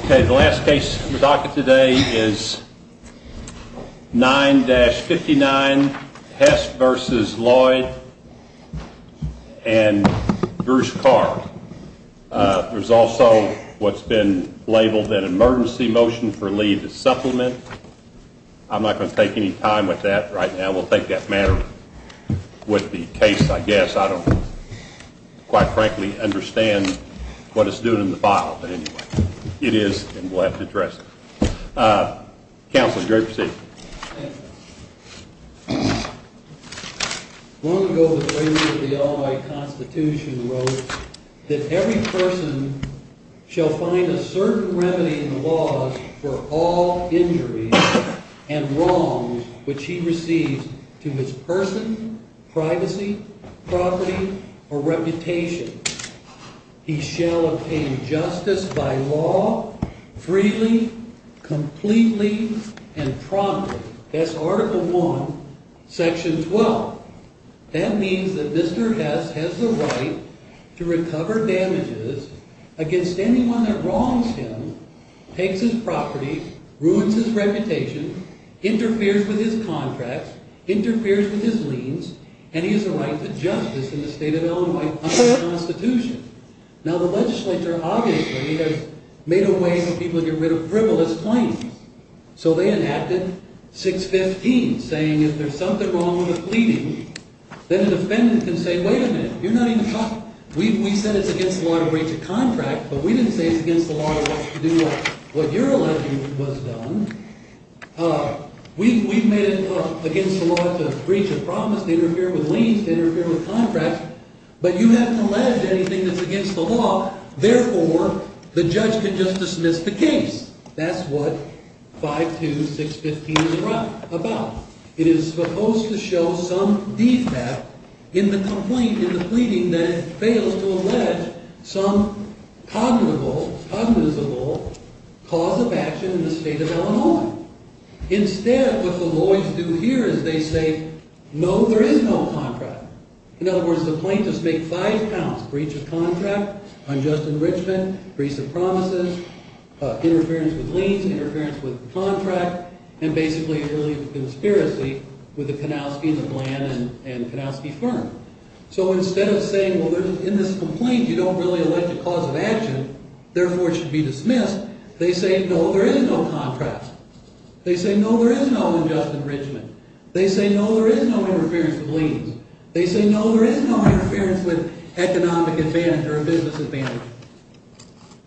Okay, the last case in the docket today is 9-59 Hess v. Loyd v. Carr. There's also what's been labeled an emergency motion for Lee to supplement. I'm not going to take any time with that right now. We'll take that matter with the case, I guess. I don't, quite frankly, understand what it's doing in the file. But anyway, it is, and we'll have to address it. Counsel, it's a great procedure. Long ago, the President of the Illinois Constitution wrote that every person shall find a certain remedy in the laws for all injuries and wrongs which he receives to his person, privacy, property, or reputation. He shall obtain justice by law, freely, completely, and promptly. That's Article I, Section 12. That means that Mr. Hess has the right to recover damages against anyone that wrongs him, takes his property, ruins his reputation, interferes with his contracts, interferes with his liens, and he has the right to justice in the state of Illinois. Now, the legislature, obviously, has made a way for people to get rid of frivolous claims. So they enacted 6-15, saying if there's something wrong with a pleading, then a defendant can say, wait a minute, you're not even talking. But you haven't alleged anything that's against the law. Therefore, the judge can just dismiss the case. That's what 5-2, 6-15 is about. It is supposed to show some defect in the complaint, in the pleading, that it fails to allege some cognizable, cognizable cause of action in the state of Illinois. Instead, what the lawyers do here is they say, no, there is no contract. In other words, the plaintiffs make five counts, breach of contract, unjust enrichment, breach of promises, interference with liens, interference with the contract, and basically, really, a conspiracy with the Kanowski and the Bland and the Kanowski firm. So instead of saying, well, in this complaint, you don't really allege a cause of action, therefore, it should be dismissed, they say, no, there is no contract. They say, no, there is no unjust enrichment. They say, no, there is no interference with liens. They say, no, there is no interference with economic advantage or business advantage.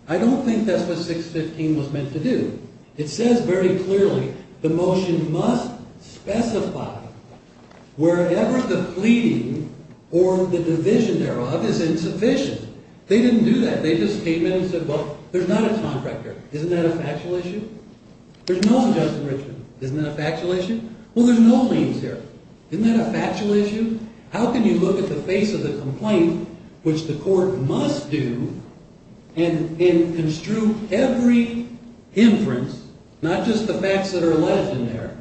I don't think that's what 6-15 was meant to do. It says very clearly, the motion must specify wherever the pleading or the division thereof is insufficient. They didn't do that. They just came in and said, well, there's not a contract there. Isn't that a factual issue? There's no unjust enrichment. Isn't that a factual issue? Well, there's no liens here. Isn't that a factual issue? How can you look at the face of the complaint, which the court must do, and construe every inference, not just the facts that are alleged in there,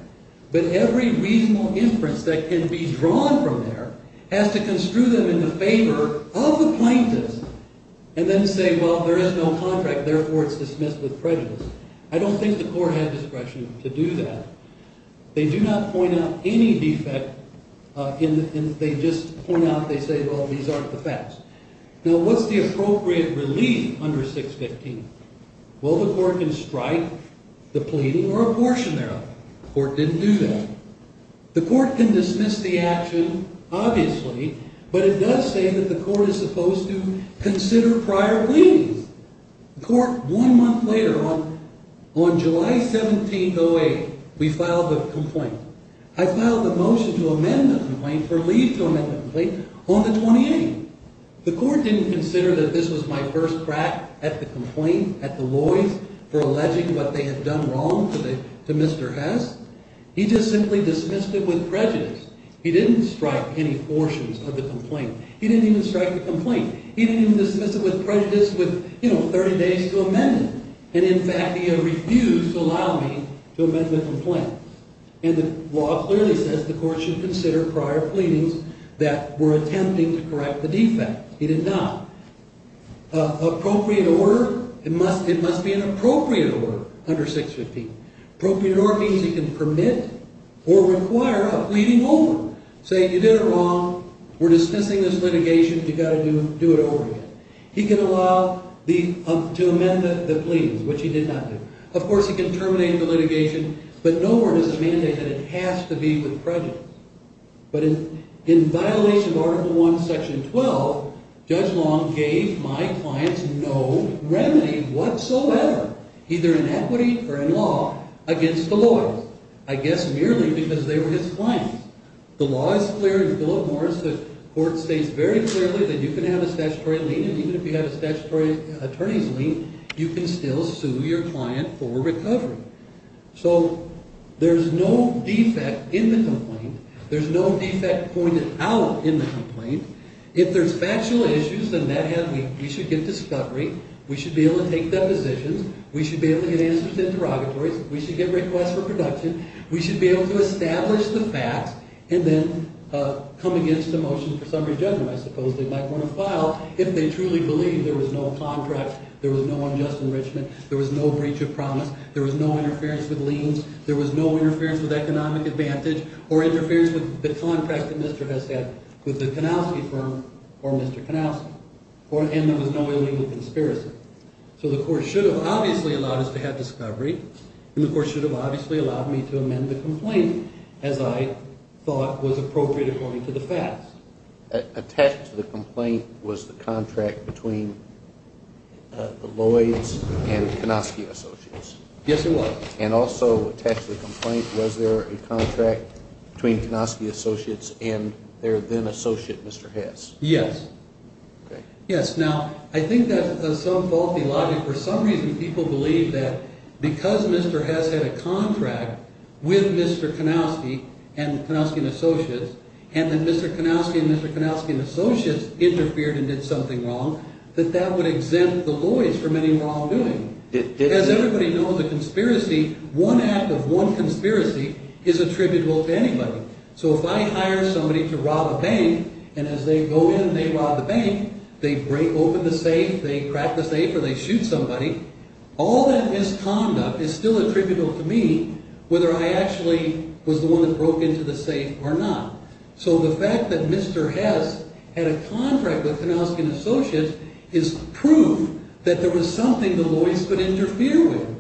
but every reasonable inference that can be drawn from there, has to construe them in the favor of the plaintiffs, and then say, well, there is no contract, therefore, it's dismissed with prejudice. I don't think the court had discretion to do that. They do not point out any defect. They just point out, they say, well, these aren't the facts. Now, what's the appropriate relief under 6-15? Well, the court can strike the pleading or abortion thereof. The court didn't do that. The court can dismiss the action, obviously, but it does say that the court is supposed to consider prior pleadings. The court, one month later, on July 17, 08, we filed a complaint. I filed a motion to amend the complaint, for leave to amend the complaint, on the 28th. The court didn't consider that this was my first crack at the complaint, at the lawyers, for alleging what they had done wrong to Mr. Hess. He just simply dismissed it with prejudice. He didn't strike any abortions of the complaint. He didn't even strike the complaint. He didn't even dismiss it with prejudice with, you know, 30 days to amend it. And, in fact, he refused to allow me to amend the complaint. And the law clearly says the court should consider prior pleadings that were attempting to correct the defect. He did not. Appropriate order, it must be an appropriate order under 6-15. Appropriate order means he can permit or require a pleading over, saying you did it wrong, we're dismissing this litigation, you've got to do it over again. He can allow the, to amend the pleadings, which he did not do. Of course, he can terminate the litigation, but nowhere does it mandate that it has to be with prejudice. But in violation of Article 1, Section 12, Judge Long gave my clients no remedy whatsoever, either in equity or in law, against the lawyers. I guess merely because they were his clients. The law is clear in the Bill of Morals. The court states very clearly that you can have a statutory lien, and even if you have a statutory attorney's lien, you can still sue your client for recovery. So there's no defect in the complaint. There's no defect pointed out in the complaint. If there's factual issues, then we should get discovery, we should be able to take depositions, we should be able to get answers to interrogatories, we should get requests for production, we should be able to establish the facts, and then come against a motion for summary judgment, I suppose they might want to file if they truly believe there was no contract, there was no unjust enrichment, there was no breach of promise, there was no interference with liens, there was no interference with economic advantage, or interference with the contract that Mr. Hess had with the Kanowski family. And there was no illegal conspiracy. So the court should have obviously allowed us to have discovery, and the court should have obviously allowed me to amend the complaint as I thought was appropriate according to the facts. Attached to the complaint was the contract between the Lloyds and the Kanowski associates. Yes, it was. And also attached to the complaint was there a contract between Kanowski associates and their then-associate, Mr. Hess. Yes. Now, I think that's some faulty logic. For some reason, people believe that because Mr. Hess had a contract with Mr. Kanowski and Kanowski and associates, and that Mr. Kanowski and Mr. Kanowski and associates interfered and did something wrong, that that would exempt the Lloyds from any wrongdoing. As everybody knows, a conspiracy, one act of one conspiracy is attributable to anybody. So if I hire somebody to rob a bank, and as they go in and they rob the bank, they break open the safe, they crack the safe, or they shoot somebody, all that misconduct is still attributable to me, whether I actually was the one that broke into the safe or not. So the fact that Mr. Hess had a contract with Kanowski and associates is proof that there was something the Lloyds could interfere with.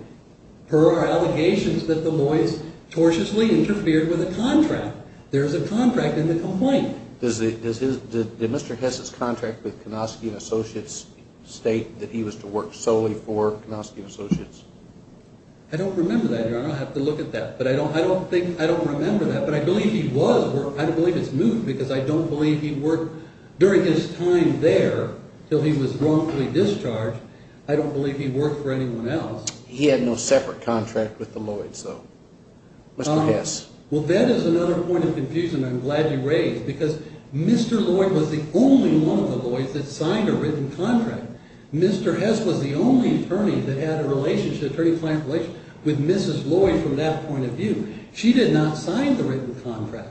Per our allegations that the Lloyds tortiously interfered with a contract. There's a contract in the complaint. Did Mr. Hess' contract with Kanowski and associates state that he was to work solely for Kanowski and associates? I don't remember that, Your Honor. I'll have to look at that. I don't remember that, but I believe he was. I don't believe it's moved because I don't believe he worked during his time there until he was wrongfully discharged. I don't believe he worked for anyone else. He had no separate contract with the Lloyds, though. Mr. Hess. Well, that is another point of confusion I'm glad you raised because Mr. Lloyd was the only one of the Lloyds that signed a written contract. Mr. Hess was the only attorney that had a relationship, attorney-client relationship, with Mrs. Lloyd from that point of view. She did not sign the written contract.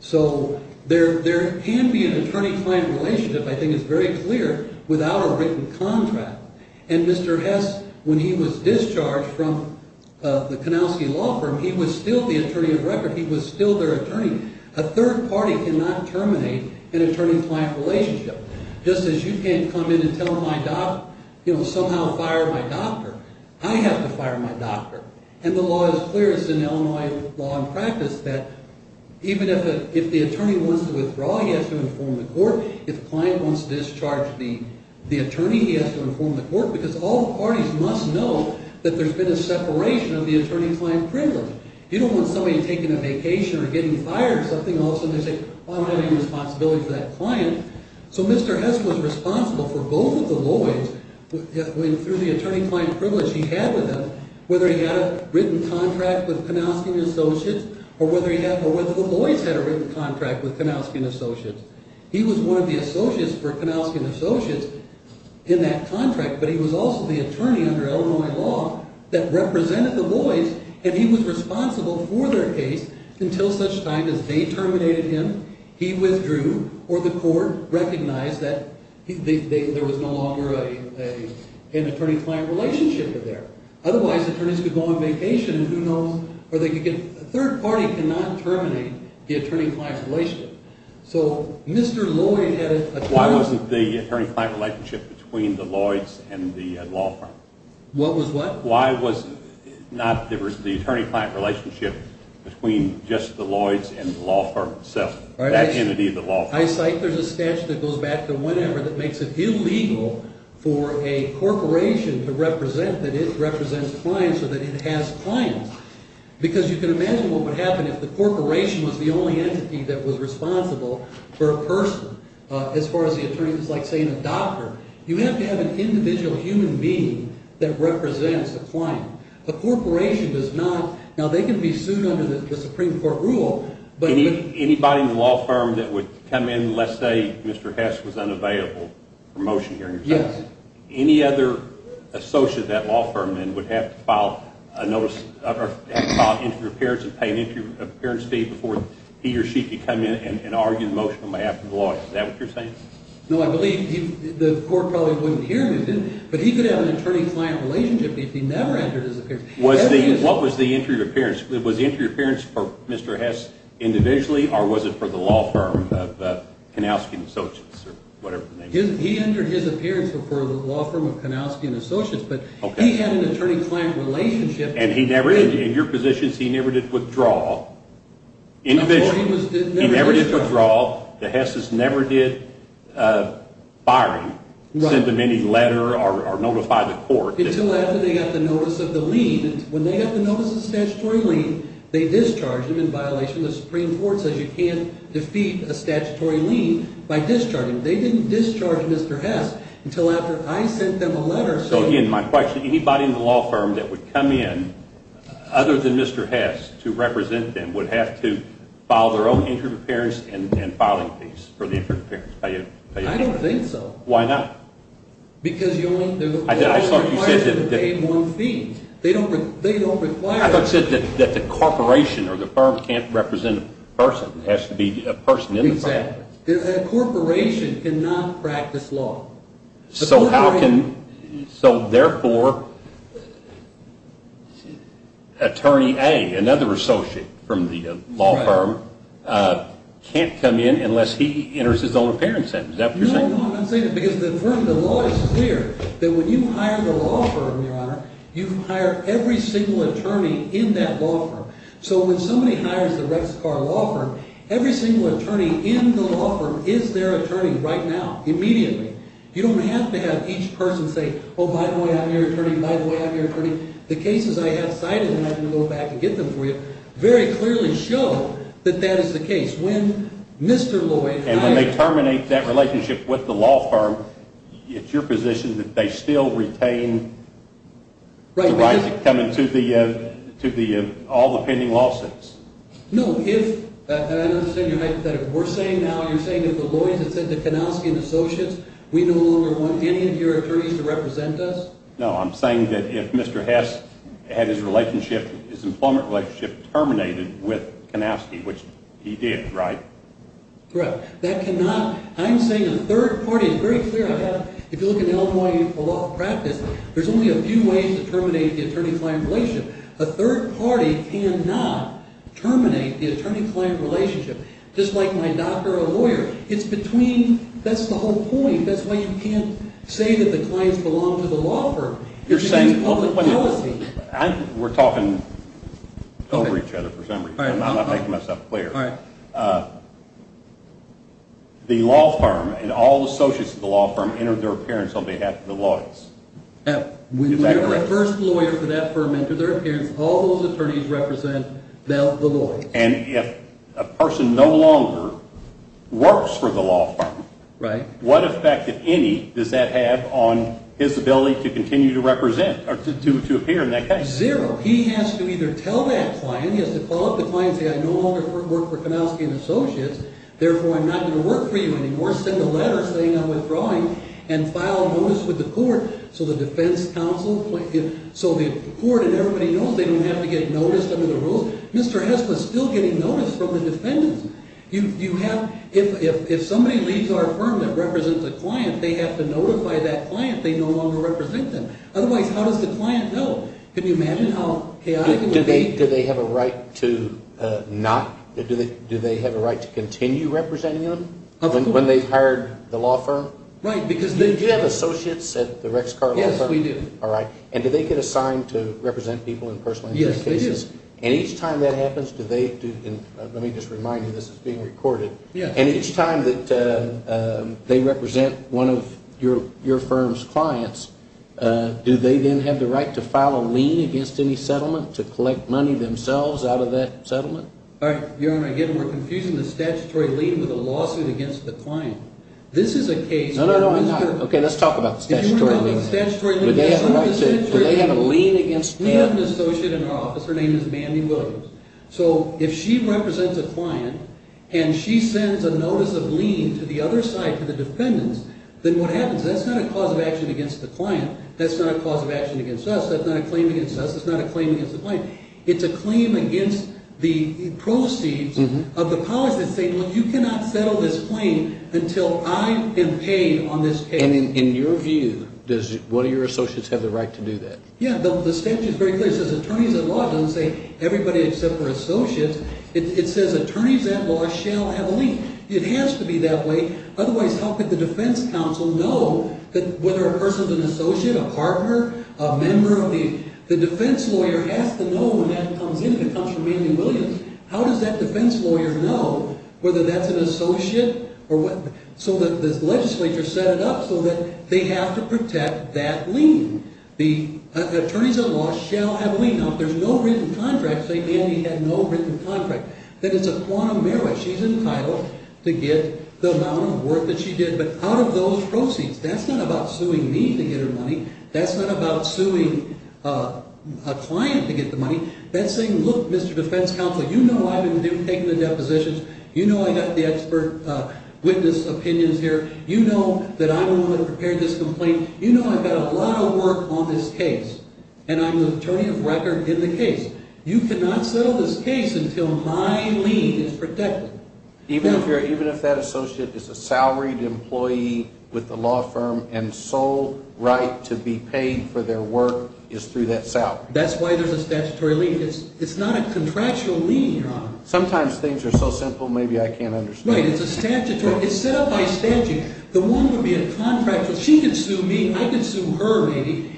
So there can be an attorney-client relationship, I think it's very clear, without a written contract. And Mr. Hess, when he was discharged from the Kanowski law firm, he was still the attorney of record. He was still their attorney. A third party cannot terminate an attorney-client relationship. Just as you can't come in and tell my doctor, you know, somehow fire my doctor, I have to fire my doctor. And the law is clear. It's an Illinois law and practice that even if the attorney wants to withdraw, he has to inform the court. If the client wants to discharge the attorney, he has to inform the court because all the parties must know that there's been a separation of the attorney-client privilege. You don't want somebody taking a vacation or getting fired or something and all of a sudden they say, well I don't have any responsibility for that client. So Mr. Hess was responsible for both of the Lloyds, through the attorney-client privilege he had with them, whether he had a written contract with Kanowski and Associates or whether the Lloyds had a written contract with Kanowski and Associates. He was one of the associates for Kanowski and Associates in that contract, but he was also the attorney under Illinois law that represented the Lloyds and he was responsible for their case until such time as they terminated him, he withdrew, or the court recognized that there was no longer an attorney-client relationship there. Otherwise, attorneys could go on vacation and who knows, or they could get, a third party cannot terminate the attorney-client relationship. So Mr. Lloyd had a… Why wasn't the attorney-client relationship between the Lloyds and the law firm? What was what? Why was not, there was the attorney-client relationship between just the Lloyds and the law firm itself, that entity, the law firm? I cite there's a statute that goes back to whenever that makes it illegal for a corporation to represent that it represents clients or that it has clients. Because you can imagine what would happen if the corporation was the only entity that was responsible for a person. As far as the attorney, it's like saying a doctor. You have to have an individual human being that represents a client. A corporation does not. Now they can be sued under the Supreme Court rule, but… Do you think anybody in the law firm that would come in, let's say Mr. Hess was unavailable for motion hearing? Yes. Any other associate of that law firm then would have to file a notice, or have to file an inter-appearance and pay an inter-appearance fee before he or she could come in and argue the motion on behalf of the Lloyds. Is that what you're saying? No, I believe the court probably wouldn't hear him, but he could have an attorney-client relationship if he never entered his appearance. What was the inter-appearance? Was the inter-appearance for Mr. Hess individually or was it for the law firm of Kanowski and Associates or whatever the name is? He entered his appearance for the law firm of Kanowski and Associates, but he had an attorney-client relationship. And he never, in your positions, he never did withdraw individually. He never did withdraw. The Hesses never did firing, send them any letter or notify the court. Until after they got the notice of the lien. When they got the notice of the statutory lien, they discharged him in violation of the Supreme Court says you can't defeat a statutory lien by discharging. They didn't discharge Mr. Hess until after I sent them a letter. So again, my question, anybody in the law firm that would come in other than Mr. Hess to represent them would have to file their own inter-appearance and filing fees for the inter-appearance payout? I don't think so. Why not? Because you only require them to pay one fee. I thought you said that the corporation or the firm can't represent a person. It has to be a person in the firm. Exactly. A corporation cannot practice law. So therefore, Attorney A, another associate from the law firm, can't come in unless he enters his own appearance. Is that what you're saying? No, I'm not saying that because the law is clear that when you hire the law firm, Your Honor, you hire every single attorney in that law firm. So when somebody hires the Rexcar law firm, every single attorney in the law firm is their attorney right now, immediately. You don't have to have each person say, oh, by the way, I'm your attorney, by the way, I'm your attorney. The cases I have cited, and I can go back and get them for you, very clearly show that that is the case. And when they terminate that relationship with the law firm, it's your position that they still retain the right to come into all the pending lawsuits? No, if, and I understand your hypothetical, you're saying now, you're saying if the Lloyds had said to Kanowski and Associates, we no longer want any of your attorneys to represent us? No, I'm saying that if Mr. Hess had his employment relationship terminated with Kanowski, which he did, right? Correct. That cannot, I'm saying a third party, it's very clear, if you look at Illinois law practice, there's only a few ways to terminate the attorney-client relationship. A third party cannot terminate the attorney-client relationship, just like my doctor or lawyer. It's between, that's the whole point, that's why you can't say that the clients belong to the law firm. You're saying, we're talking over each other for some reason, I'm not making myself clear. The law firm and all the associates of the law firm entered their appearance on behalf of the Lloyds. When the first lawyer for that firm entered their appearance, all those attorneys represent the Lloyds. And if a person no longer works for the law firm, what effect, if any, does that have on his ability to continue to represent, or to appear in that case? Zero. He has to either tell that client, he has to call up the client and say, I no longer work for Kanowski and Associates, therefore I'm not going to work for you anymore, send a letter saying I'm withdrawing, and file a notice with the court. So the defense counsel, so the court and everybody knows they don't have to get noticed under the rules. Mr. Hess was still getting noticed from the defendants. You have, if somebody leaves our firm that represents a client, they have to notify that client they no longer represent them. Otherwise, how does the client know? Can you imagine how chaotic it can be? Do they have a right to not, do they have a right to continue representing them when they've hired the law firm? Do you have associates at the Rex Carlisle firm? Yes, we do. All right. And do they get assigned to represent people in personal incident cases? Yes, they do. And each time that happens, do they, let me just remind you this is being recorded, and each time that they represent one of your firm's clients, do they then have the right to file a lien against any settlement to collect money themselves out of that settlement? Your Honor, again, we're confusing the statutory lien with a lawsuit against the client. This is a case where Mr. No, no, no, I'm not. Okay, let's talk about the statutory lien. If you were to have a statutory lien with someone, the statutory lien Do they have a right to, do they have a lien against them? We have an associate in our office, her name is Mandy Williams. So if she represents a client and she sends a notice of lien to the other side, to the defendants, then what happens? That's not a cause of action against the client. That's not a cause of action against us. That's not a claim against us. That's not a claim against the client. It's a claim against the proceeds of the policy that say, look, you cannot settle this claim until I am paid on this case. And in your view, what are your associates have the right to do that? Yeah, the statute is very clear. It says attorneys at law doesn't say everybody except for associates. It says attorneys at law shall have a lien. It has to be that way. Otherwise, how could the defense counsel know that whether a person's an associate, a partner, a member of the defense lawyer has to know when that comes in? If it comes from Mandy Williams, how does that defense lawyer know whether that's an associate or what? So that the legislature set it up so that they have to protect that lien. The attorneys at law shall have a lien. Now, if there's no written contract, say Mandy had no written contract, then it's a quantum merit. She's entitled to get the amount of work that she did. But out of those proceeds, that's not about suing me to get her money. That's not about suing a client to get the money. That's saying, look, Mr. Defense Counsel, you know I've been taking the depositions. You know I got the expert witness opinions here. You know that I'm the one that prepared this complaint. You know I've got a lot of work on this case. And I'm the attorney of record in the case. You cannot settle this case until my lien is protected. Even if that associate is a salaried employee with a law firm and sole right to be paid for their work is through that salary? That's why there's a statutory lien. It's not a contractual lien, Your Honor. Sometimes things are so simple, maybe I can't understand. Right, it's a statutory. It's set up by statute. The one would be a contractual. She could sue me. I could sue her, maybe.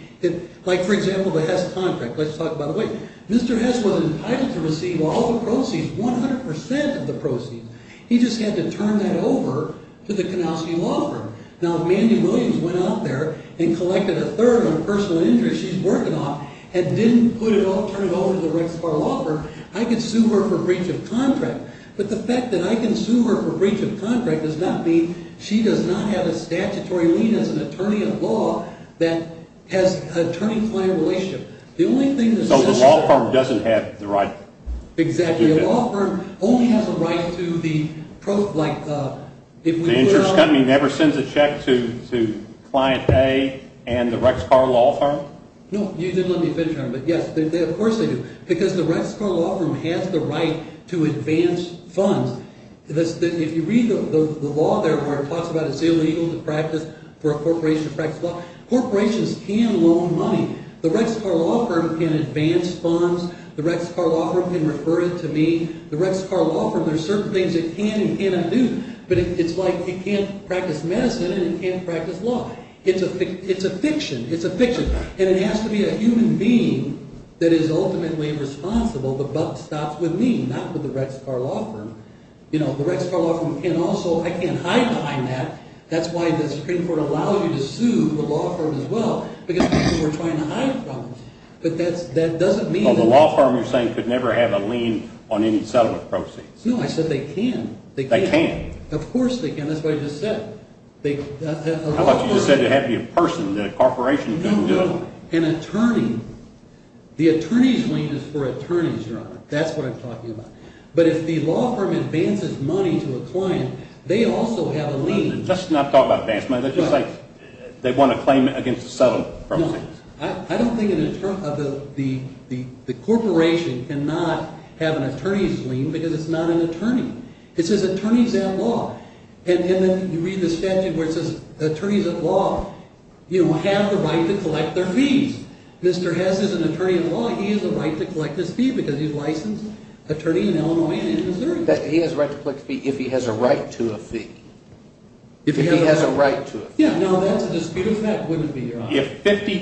Like, for example, the Hess contract. Let's talk about the way. Mr. Hess was entitled to receive all the proceeds, 100% of the proceeds. He just had to turn that over to the Konowsky Law Firm. Now, if Mandy Williams went out there and collected a third of her personal injuries she's working on and didn't put it all, turn it all over to the Rex Carr Law Firm, I could sue her for breach of contract. But the fact that I can sue her for breach of contract does not mean she does not have a statutory lien as an attorney of law that has attorney-client relationship. So the law firm doesn't have the right to do that? Exactly. The law firm only has a right to the, like, if we were to… The insurance company never sends a check to Client A and the Rex Carr Law Firm? No, you didn't let me finish, Your Honor. But, yes, of course they do. Because the Rex Carr Law Firm has the right to advance funds. If you read the law there where it talks about it's illegal to practice for a corporation to practice law, corporations can loan money. The Rex Carr Law Firm can advance funds. The Rex Carr Law Firm can refer it to me. The Rex Carr Law Firm, there are certain things it can and cannot do. But it's like it can't practice medicine and it can't practice law. It's a fiction. It's a fiction. And it has to be a human being that is ultimately responsible. The buck stops with me, not with the Rex Carr Law Firm. You know, the Rex Carr Law Firm can also… I can't hide behind that. That's why the Supreme Court allows you to sue the law firm as well because people were trying to hide from it. But that doesn't mean… Well, the law firm, you're saying, could never have a lien on any settlement proceeds. No, I said they can. They can? Of course they can. That's what I just said. I thought you just said it had to be a person, that a corporation couldn't do it. No, no, an attorney. The attorney's lien is for attorneys, Your Honor. That's what I'm talking about. But if the law firm advances money to a client, they also have a lien. Let's not talk about advance money. That's just like they want a claim against a settlement. No, I don't think the corporation cannot have an attorney's lien because it's not an attorney. It says attorneys at law. And then you read the statute where it says attorneys at law have the right to collect their fees. Mr. Hess is an attorney at law. He has a right to collect his fee because he's a licensed attorney in Illinois and Missouri. He has a right to collect a fee if he has a right to a fee. If he has a right to a fee. Yeah, no, that's a dispute. That wouldn't be, Your Honor. If 50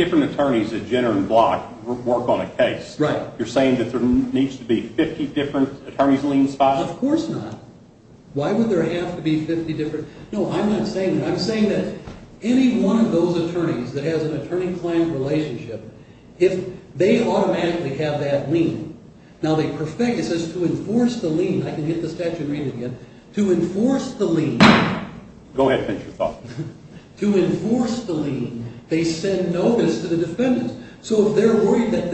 different attorneys at Jenner and Block work on a case, you're saying that there needs to be 50 different attorneys' liens filed? Of course not. Why would there have to be 50 different? No, I'm not saying that. I'm saying that any one of those attorneys that has an attorney-client relationship, if they automatically have that lien, now they perfect it. It says to enforce the lien. I can hit the statute and read it again. To enforce the lien. Go ahead. Make your thought. To enforce the lien, they send notice to the defendant. So if they're worried that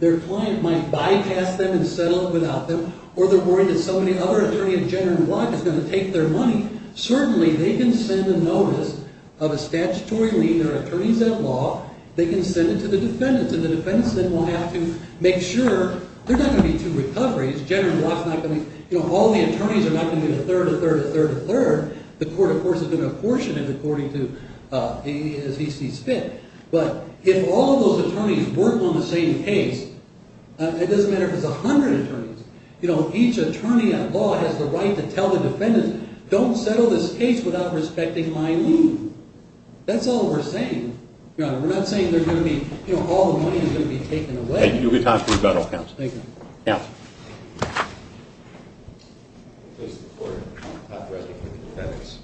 their client might bypass them and settle it without them, or they're worried that somebody other attorney at Jenner and Block is going to take their money, certainly they can send a notice of a statutory lien. There are attorneys at law. They can send it to the defendant. And the defendants then will have to make sure there's not going to be two recoveries. Jenner and Block is not going to be, you know, all the attorneys are not going to be a third, a third, a third, a third. The court, of course, is going to apportion it according to as he sees fit. But if all those attorneys work on the same case, it doesn't matter if it's 100 attorneys. You know, each attorney at law has the right to tell the defendants, don't settle this case without respecting my lien. That's all we're saying, Your Honor. We're not saying they're going to be, you know, all the money is going to be taken away. You can talk to the federal counsel. Thank you. Counsel. I'm pleased to report I'm not presiding for the defendants.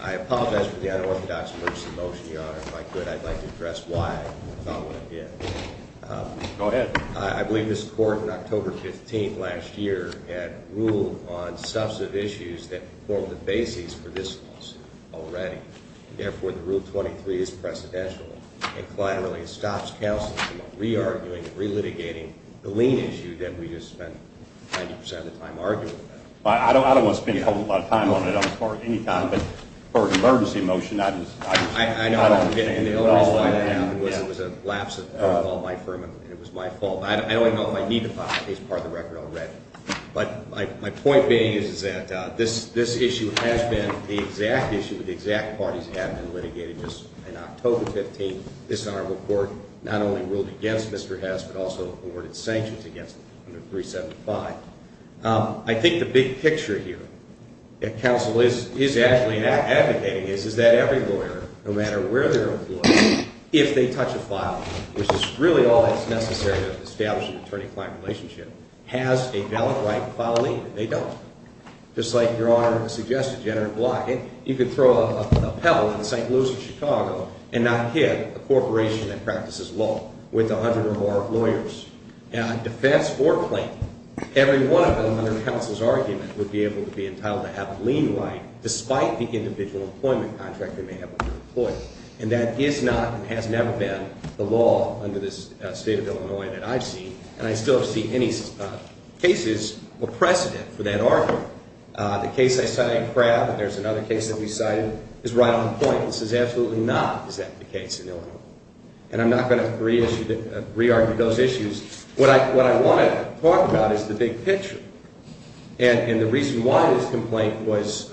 I apologize for the unorthodox version of the motion, Your Honor. If I could, I'd like to address why I thought what I did. Go ahead. I believe this court in October 15th last year had ruled on substantive issues that formed the basis for this lawsuit already. And, therefore, the Rule 23 is precedential. And, collaterally, it stops counsel from re-arguing, re-litigating the lien issue that we just spent 90% of the time arguing about. I don't want to spend a whole lot of time on it. I'm as far as any time. But for an emergency motion, I just don't understand. I know. And the only reason why that happened was it was a lapse of my firm and it was my fault. I don't even know if I need to file it. It's part of the record already. But my point being is that this issue has been the exact issue that the exact parties have been litigating just in October 15th. This honorable court not only ruled against Mr. Hess but also awarded sanctions against him under 375. I think the big picture here that counsel is actually advocating is that every lawyer, no matter where they're employed, if they touch a file, which is really all that's necessary to establish an attorney-client relationship, has a valid right to file a lien. And they don't. Just like Your Honor suggested, General Blight, you could throw a pebble in St. Louis or Chicago and not hit a corporation that practices law with 100 or more lawyers. And on defense or plain, every one of them under counsel's argument would be able to be entitled to have a lien right, despite the individual employment contract they may have with their employer. And that is not and has never been the law under this State of Illinois that I've seen. And I still see any cases or precedent for that argument. The case I cited in Pratt, and there's another case that we cited, is right on point. This is absolutely not exactly the case in Illinois. And I'm not going to re-argue those issues. What I want to talk about is the big picture. And the reason why this complaint was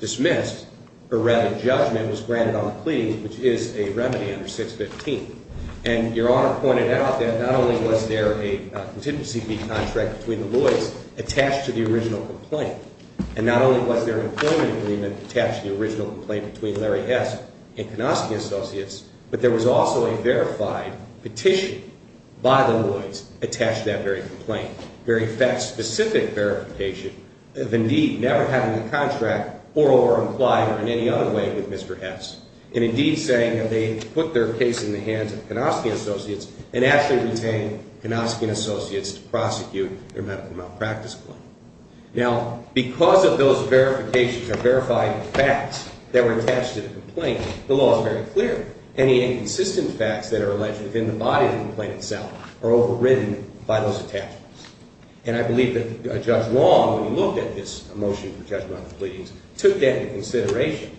dismissed, or rather judgment, was granted on a plea, which is a remedy under 615. And Your Honor pointed out that not only was there a contingency fee contract between the Lloyds attached to the original complaint, and not only was there an employment agreement attached to the original complaint between Larry Hess and Konosky Associates, but there was also a verified petition by the Lloyds attached to that very complaint. A very fact-specific verification of indeed never having a contract or over-implied or in any other way with Mr. Hess. And indeed saying that they put their case in the hands of Konosky Associates and actually retained Konosky and Associates to prosecute their medical malpractice claim. Now, because of those verifications or verified facts that were attached to the complaint, the law is very clear. Any inconsistent facts that are alleged within the body of the complaint itself are overridden by those attachments. And I believe that Judge Long, when he looked at this motion for judgment on the pleadings, took that into consideration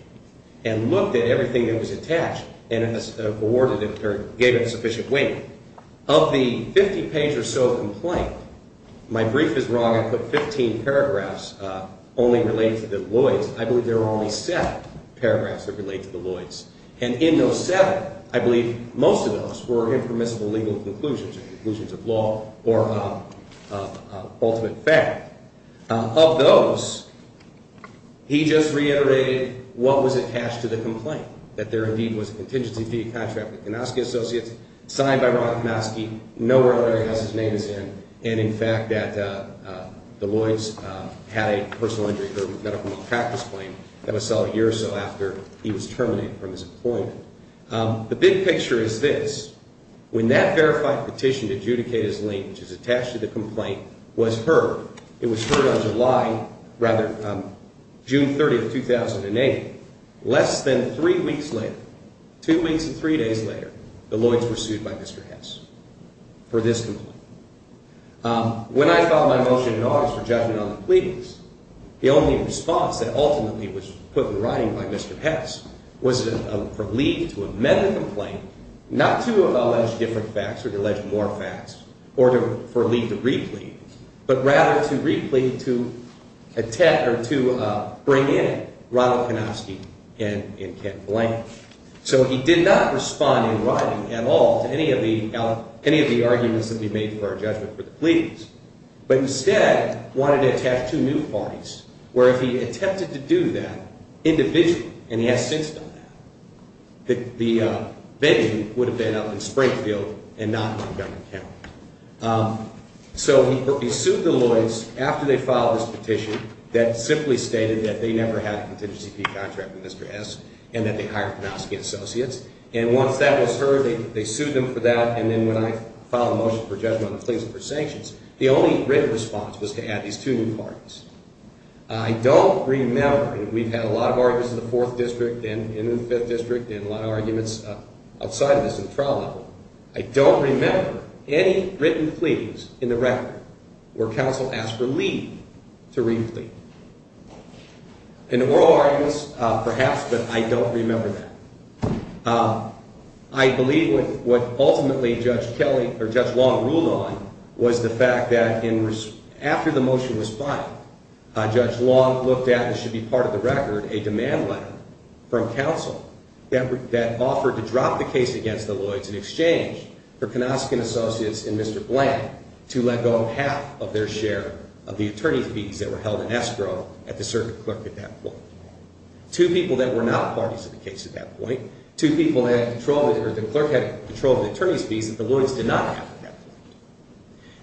and looked at everything that was attached and awarded it or gave it sufficient weight. Of the 50-page or so complaint, my brief is wrong. I put 15 paragraphs only related to the Lloyds. I believe there were only seven paragraphs that related to the Lloyds. And in those seven, I believe most of those were impermissible legal conclusions or conclusions of law or ultimate fact. Of those, he just reiterated what was attached to the complaint, that there indeed was a contingency fee contract with Konosky Associates signed by Robert Konosky. Nowhere else in the house his name is in. And in fact, that the Lloyds had a personal injury-prone medical malpractice claim that was settled a year or so after he was terminated from his employment. The big picture is this. When that verified petition to adjudicate his lien, which is attached to the complaint, was heard, it was heard on July, rather, June 30, 2008, less than three weeks later, two weeks and three days later, the Lloyds were sued by Mr. Hess for this complaint. When I filed my motion in August for judgment on the pleadings, the only response that ultimately was put in writing by Mr. Hess was for Lee to amend the complaint not to allege different facts or to allege more facts or for Lee to re-plead, but rather to re-plead to bring in Ronald Konosky and Kent Blank. So he did not respond in writing at all to any of the arguments that we made for our judgment for the pleadings, but instead wanted to attach two new parties, where if he attempted to do that individually, and he has since done that, the venue would have been up in Springfield and not Montgomery County. So he sued the Lloyds after they filed this petition that simply stated that they never had a contingency contract with Mr. Hess and that they hired Konosky and associates, and once that was heard, they sued them for that, and then when I filed a motion for judgment on the pleadings for sanctions, the only written response was to add these two new parties. I don't remember, and we've had a lot of arguments in the Fourth District and in the Fifth District and a lot of arguments outside of this in the trial level, I don't remember any written pleadings in the record where counsel asked for Lee to re-plead. In the oral arguments, perhaps, but I don't remember that. I believe what ultimately Judge Long ruled on was the fact that after the motion was filed, Judge Long looked at what should be part of the record, a demand letter from counsel that offered to drop the case against the Lloyds in exchange for Konosky and associates and Mr. Blank to let go of half of their share of the attorney fees that were held in escrow at the circuit clerk at that point. Two people that were not parties to the case at that point, two people that the clerk had control of the attorney's fees that the Lloyds did not have.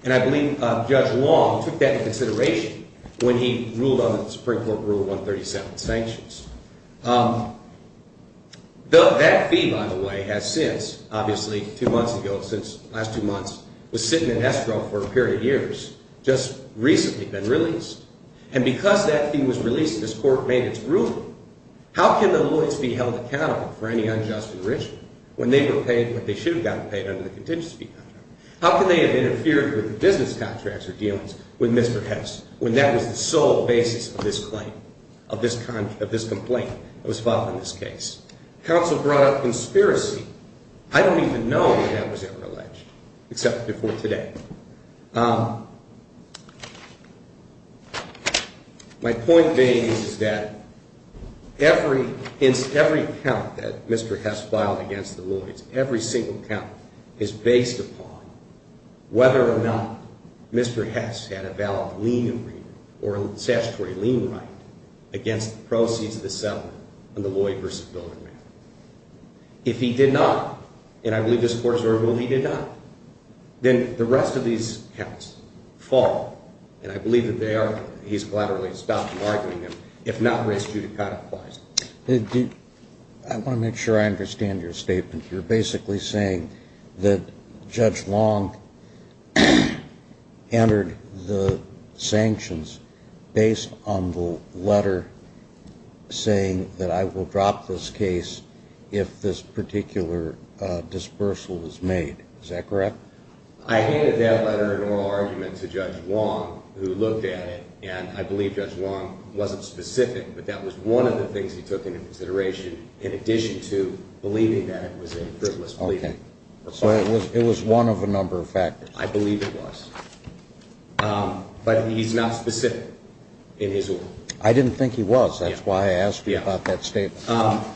And I believe Judge Long took that into consideration when he ruled on the Supreme Court Rule 137 sanctions. That fee, by the way, has since, obviously, two months ago, since the last two months, was sitting in escrow for a period of years, just recently been released, and because that fee was released, this Court made its ruling. How can the Lloyds be held accountable for any unjust original when they were paid what they should have gotten paid under the contingency contract? How can they have interfered with business contracts or dealings with Mr. Hess when that was the sole basis of this complaint that was filed in this case? Counsel brought up conspiracy. I don't even know when that was ever alleged, except before today. My point being is that every count that Mr. Hess filed against the Lloyds, every single count is based upon whether or not Mr. Hess had a valid lien agreement or a statutory lien right against the proceeds of the settlement on the Lloyd v. Bilderman. If he did not, and I believe this Court has already ruled he did not, then the rest of these counts fall, and I believe that they are, he's gladly stopped arguing them, if not raised judicata-wise. I want to make sure I understand your statement. You're basically saying that Judge Long entered the sanctions based on the letter saying that I will drop this case if this particular dispersal is made. Is that correct? I handed that letter in oral argument to Judge Long who looked at it, and I believe Judge Long wasn't specific, but that was one of the things he took into consideration in addition to believing that it was a frivolous plea. Okay. So it was one of a number of factors. I believe it was. But he's not specific in his ruling. I didn't think he was. That's why I asked you about that statement.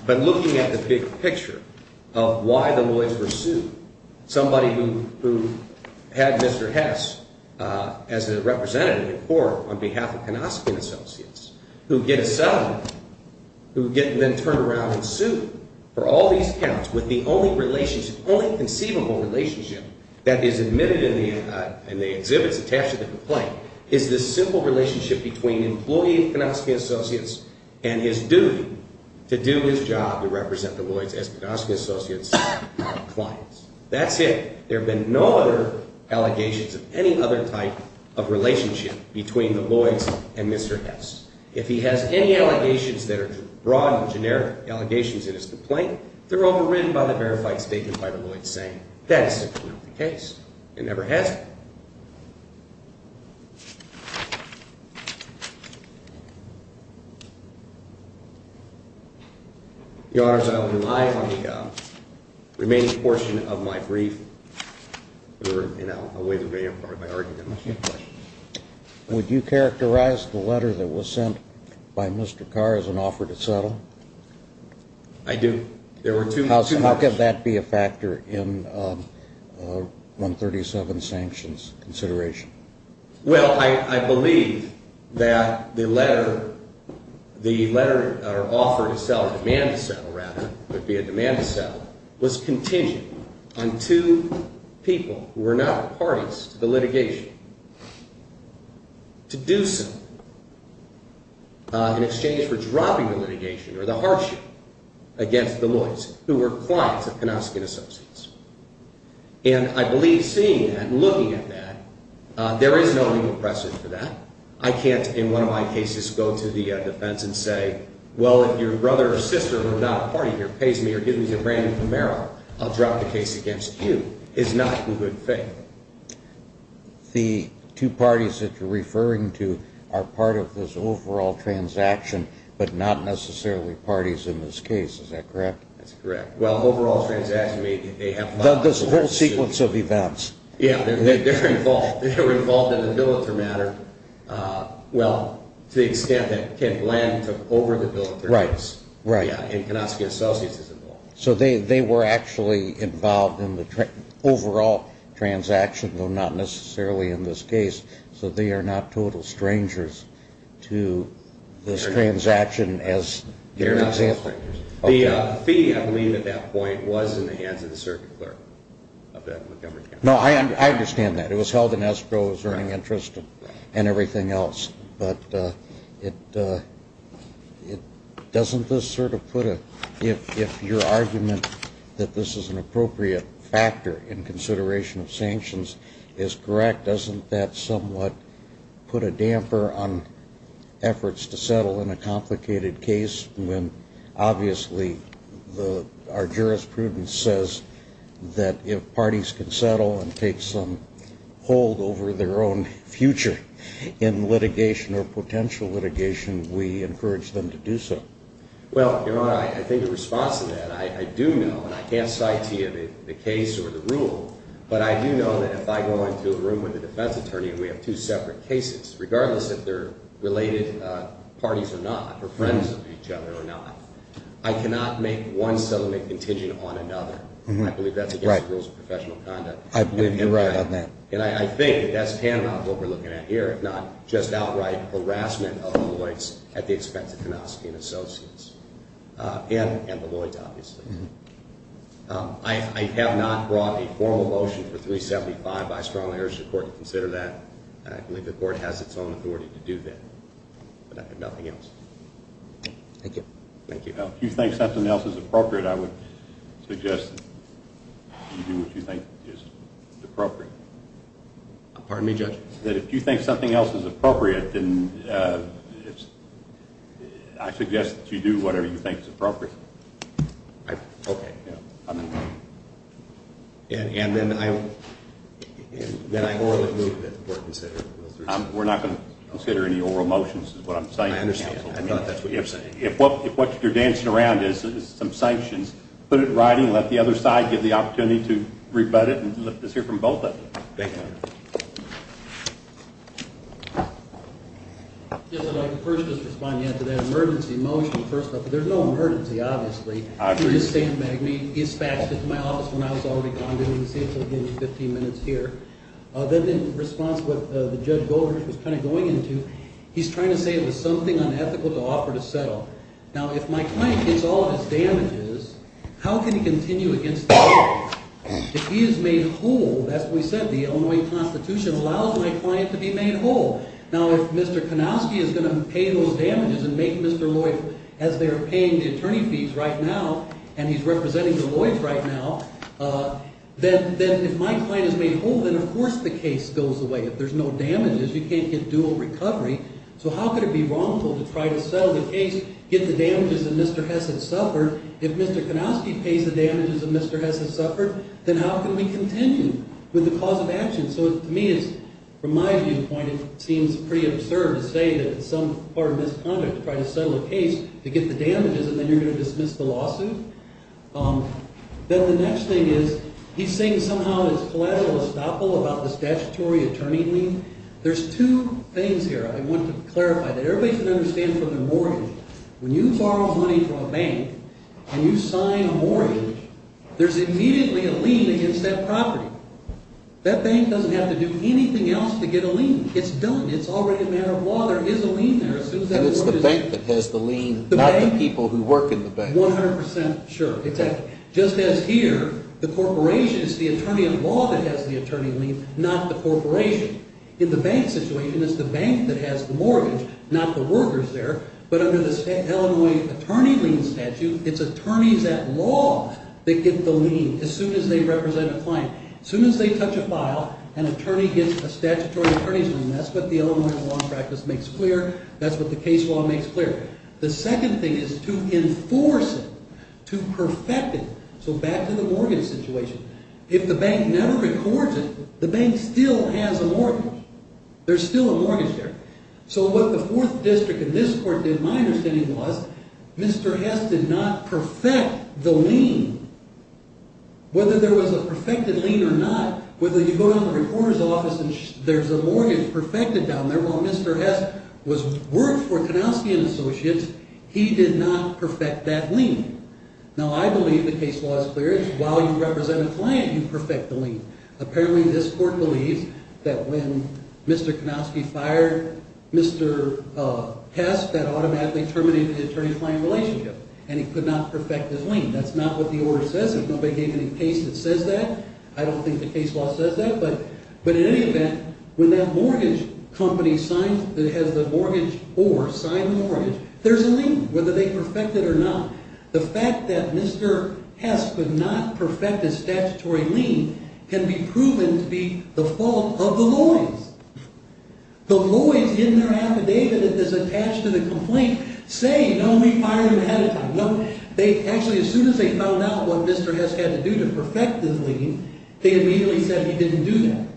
But looking at the big picture of why the Lloyds were sued, somebody who had Mr. Hess as a representative in court on behalf of Knostian Associates who would get a settlement, who would get then turned around and sued for all these counts with the only relationship, only conceivable relationship that is admitted in the exhibits attached to the complaint is this simple relationship between an employee of Knostian Associates and his duty to do his job to represent the Lloyds as Knostian Associates clients. That's it. There have been no other allegations of any other type of relationship between the Lloyds and Mr. Hess. If he has any allegations that are broad or generic allegations in his complaint, they're overridden by the verified statement by the Lloyds saying that is simply not the case. It never has been. Your Honors, I will rely on the remaining portion of my brief. And I'll waive it very importantly. Would you characterize the letter that was sent by Mr. Carr as an offer to settle? I do. How could that be a factor in 137 sanctions consideration? Well, I believe that the letter or offer to settle, demand to settle rather, would be a demand to settle, was contingent on two people who were not parties to the litigation to do so in exchange for dropping the litigation or the hardship against the Lloyds who were clients of Knostian Associates. And I believe seeing that and looking at that, there is no legal precedent for that. I can't, in one of my cases, go to the defense and say, well, if your brother or sister who are not a party here pays me or gives me a brand-new Camaro, I'll drop the case against you. It's not in good faith. The two parties that you're referring to are part of this overall transaction but not necessarily parties in this case. Is that correct? That's correct. Well, overall transaction, they have filed a lawsuit. There's a whole sequence of events. Yeah, they're involved. They were involved in the bilateral matter, well, to the extent that Kent Bland took over the bilateral case. Right. And Knostian Associates is involved. So they were actually involved in the overall transaction, though not necessarily in this case. So they are not total strangers to this transaction as an example. They're not total strangers. The fee, I believe, at that point was in the hands of the circuit clerk of the Montgomery County. No, I understand that. It was held in escrow as earning interest and everything else. But doesn't this sort of put a – if your argument that this is an appropriate factor in consideration of sanctions is correct, doesn't that somewhat put a damper on efforts to settle in a complicated case when obviously our jurisprudence says that if parties can settle and take some hold over their own future in litigation or potential litigation, we encourage them to do so? Well, I think in response to that, I do know, and I can't cite to you the case or the rule, but I do know that if I go into a room with a defense attorney and we have two separate cases, regardless if they're related parties or not or friends of each other or not, I cannot make one settlement contingent on another. I believe that's against the rules of professional conduct. I believe you're right on that. And I think that that's paramount to what we're looking at here, if not just outright harassment of the Lloyds at the expense of Knostian Associates and the Lloyds, obviously. I have not brought a formal motion for 375. I strongly urge the court to consider that. I believe the court has its own authority to do that. But I have nothing else. Thank you. Thank you. If you think something else is appropriate, I would suggest that you do what you think is appropriate. Pardon me, Judge? That if you think something else is appropriate, then I suggest that you do whatever you think is appropriate. Okay, yeah. And then I orally move that the court consider 375. We're not going to consider any oral motions is what I'm saying. I understand. I thought that's what you were saying. If what you're dancing around is some sanctions, put it in writing, let the other side get the opportunity to rebut it and let us hear from both of them. Thank you. Yes, I'd like to first just respond to that emergency motion, first off. There's no emergency, obviously. You're just saying, Maggie, he dispatched it to my office when I was already gone. You can see it's only been 15 minutes here. Then in response to what Judge Goldrich was kind of going into, he's trying to say it was something unethical to offer to settle. Now, if my client gets all of his damages, how can he continue against the court? If he is made whole, that's what we said, the Illinois Constitution allows my client to be made whole. Now, if Mr. Konowski is going to pay those damages and make Mr. Lloyd, as they're paying the attorney fees right now and he's representing the Lloyds right now, then if my client is made whole, then, of course, the case goes away. If there's no damages, you can't get dual recovery. So how could it be wrongful to try to settle the case, get the damages that Mr. Hess had suffered? If Mr. Konowski pays the damages that Mr. Hess has suffered, then how can we continue with the cause of action? So to me, from my viewpoint, it seems pretty absurd to say that it's some part of misconduct to try to settle a case to get the damages and then you're going to dismiss the lawsuit. Then the next thing is he's saying somehow it's collateral estoppel about the statutory attorney lien. There's two things here I want to clarify that everybody should understand from their mortgage. When you borrow money from a bank and you sign a mortgage, there's immediately a lien against that property. That bank doesn't have to do anything else to get a lien. It's done. It's already a matter of law. There is a lien there. And it's the bank that has the lien, not the people who work in the bank. 100 percent sure. Just as here, the corporation is the attorney of law that has the attorney lien, not the corporation. In the bank situation, it's the bank that has the mortgage, not the workers there. But under the Illinois attorney lien statute, it's attorneys at law that get the lien as soon as they represent a client. As soon as they touch a file, an attorney gets a statutory attorney's lien. That's what the Illinois law practice makes clear. That's what the case law makes clear. The second thing is to enforce it, to perfect it. So back to the mortgage situation. If the bank never records it, the bank still has a mortgage. There's still a mortgage there. So what the fourth district in this court did, my understanding was, Mr. Hess did not perfect the lien. Whether there was a perfected lien or not, whether you go down to the reporter's office and there's a mortgage perfected down there, while Mr. Hess worked for Kanowski & Associates, he did not perfect that lien. Now, I believe the case law is clear. It's while you represent a client, you perfect the lien. Apparently, this court believes that when Mr. Kanowski fired Mr. Hess, that automatically terminated the attorney-client relationship, and he could not perfect his lien. That's not what the order says. Nobody gave any case that says that. I don't think the case law says that. But in any event, when that mortgage company has the mortgage or signed the mortgage, there's a lien, whether they perfect it or not. The fact that Mr. Hess could not perfect his statutory lien can be proven to be the fault of the lawyers. The lawyers in their affidavit that is attached to the complaint say, no, we fired him ahead of time. Actually, as soon as they found out what Mr. Hess had to do to perfect his lien, they immediately said he didn't do that.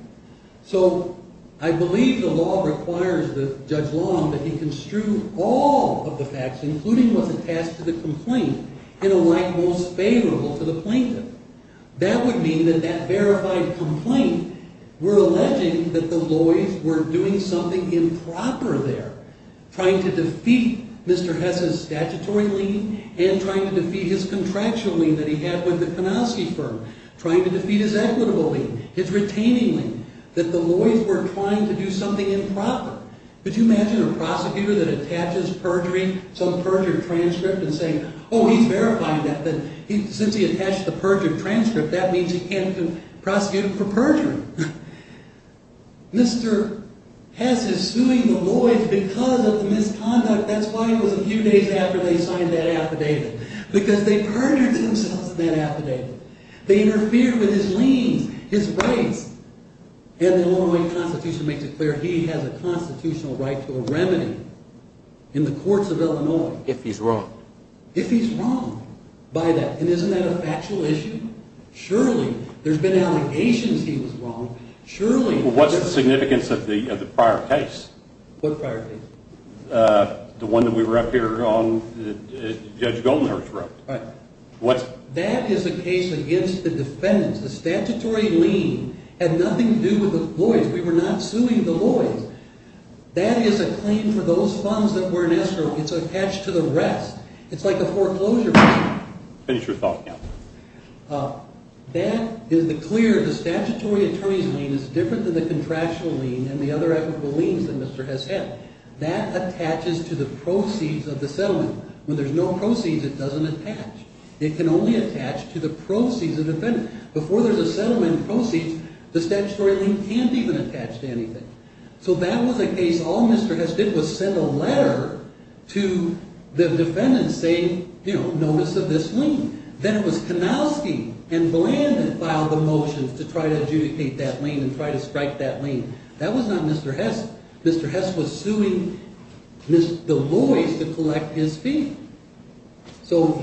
So I believe the law requires Judge Long that he construe all of the facts, including what's attached to the complaint, in a light most favorable to the plaintiff. That would mean that that verified complaint were alleging that the lawyers were doing something improper there, trying to defeat Mr. Hess's statutory lien and trying to defeat his contractual lien that he had with the Kanowski firm, trying to defeat his equitable lien, his retaining lien, that the lawyers were trying to do something improper. Could you imagine a prosecutor that attaches perjury, some perjured transcript, and saying, oh, he's verifying that. Since he attached the perjured transcript, that means he can't prosecute him for perjuring. Mr. Hess is suing the lawyers because of the misconduct. That's why it was a few days after they signed that affidavit, because they perjured themselves in that affidavit. They interfered with his liens, his rights. And the Illinois Constitution makes it clear he has a constitutional right to a remedy in the courts of Illinois. If he's wrong. If he's wrong by that. And isn't that a factual issue? Surely there's been allegations he was wrong. Surely. Well, what's the significance of the prior case? What prior case? The one that we were up here on that Judge Goldenhurst wrote. Right. What? That is a case against the defendants. The statutory lien had nothing to do with the lawyers. We were not suing the lawyers. That is a claim for those funds that were in escrow. It's attached to the rest. It's like a foreclosure claim. Finish your thought, counsel. That is the clear. The statutory attorney's lien is different than the contractual lien and the other equitable liens that Mr. Hess had. That attaches to the proceeds of the settlement. When there's no proceeds, it doesn't attach. It can only attach to the proceeds of the defendant. Before there's a settlement in proceeds, the statutory lien can't even attach to anything. So that was a case all Mr. Hess did was send a letter to the defendants saying, you know, notice of this lien. Then it was Kanowski and Bland that filed the motions to try to adjudicate that lien and try to strike that lien. That was not Mr. Hess. Mr. Hess was suing the lawyers to collect his fee. So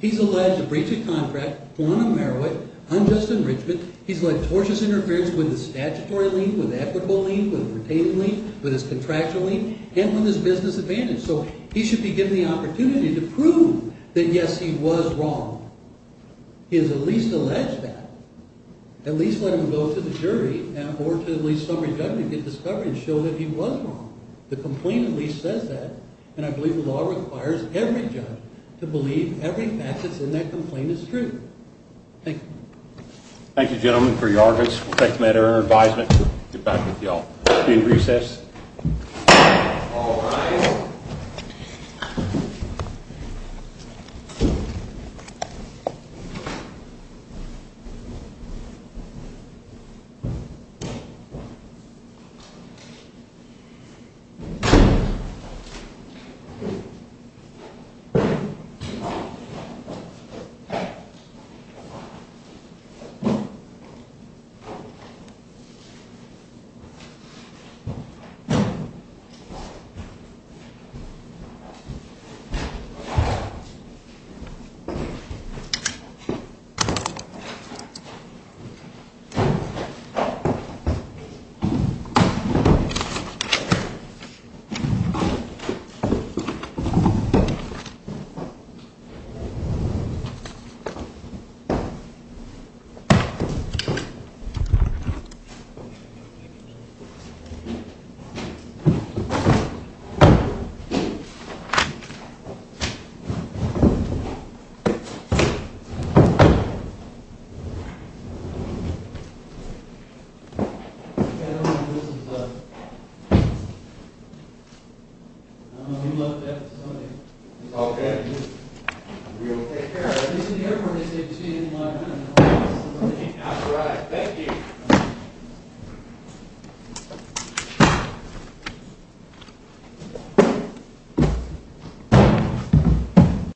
he's alleged to breach a contract, want to narrow it, unjust enrichment. He's led tortious interference with the statutory lien, with the equitable lien, with the retaining lien, with his contractual lien, and with his business advantage. So he should be given the opportunity to prove that, yes, he was wrong. He is at least alleged that. At least let him go to the jury or to at least some rejuvenated discovery and show that he was wrong. The complaint at least says that. And I believe the law requires every judge to believe every fact that's in that complaint is true. Thank you. Thank you, gentlemen, for your arguments. We'll take the matter under advisement and get back with you all. We'll be in recess. All rise. Thank you. Thank you. I don't know who this is. I don't know who left that. It's all good. We'll take care of it. This is the Air Force. All rise. Thank you.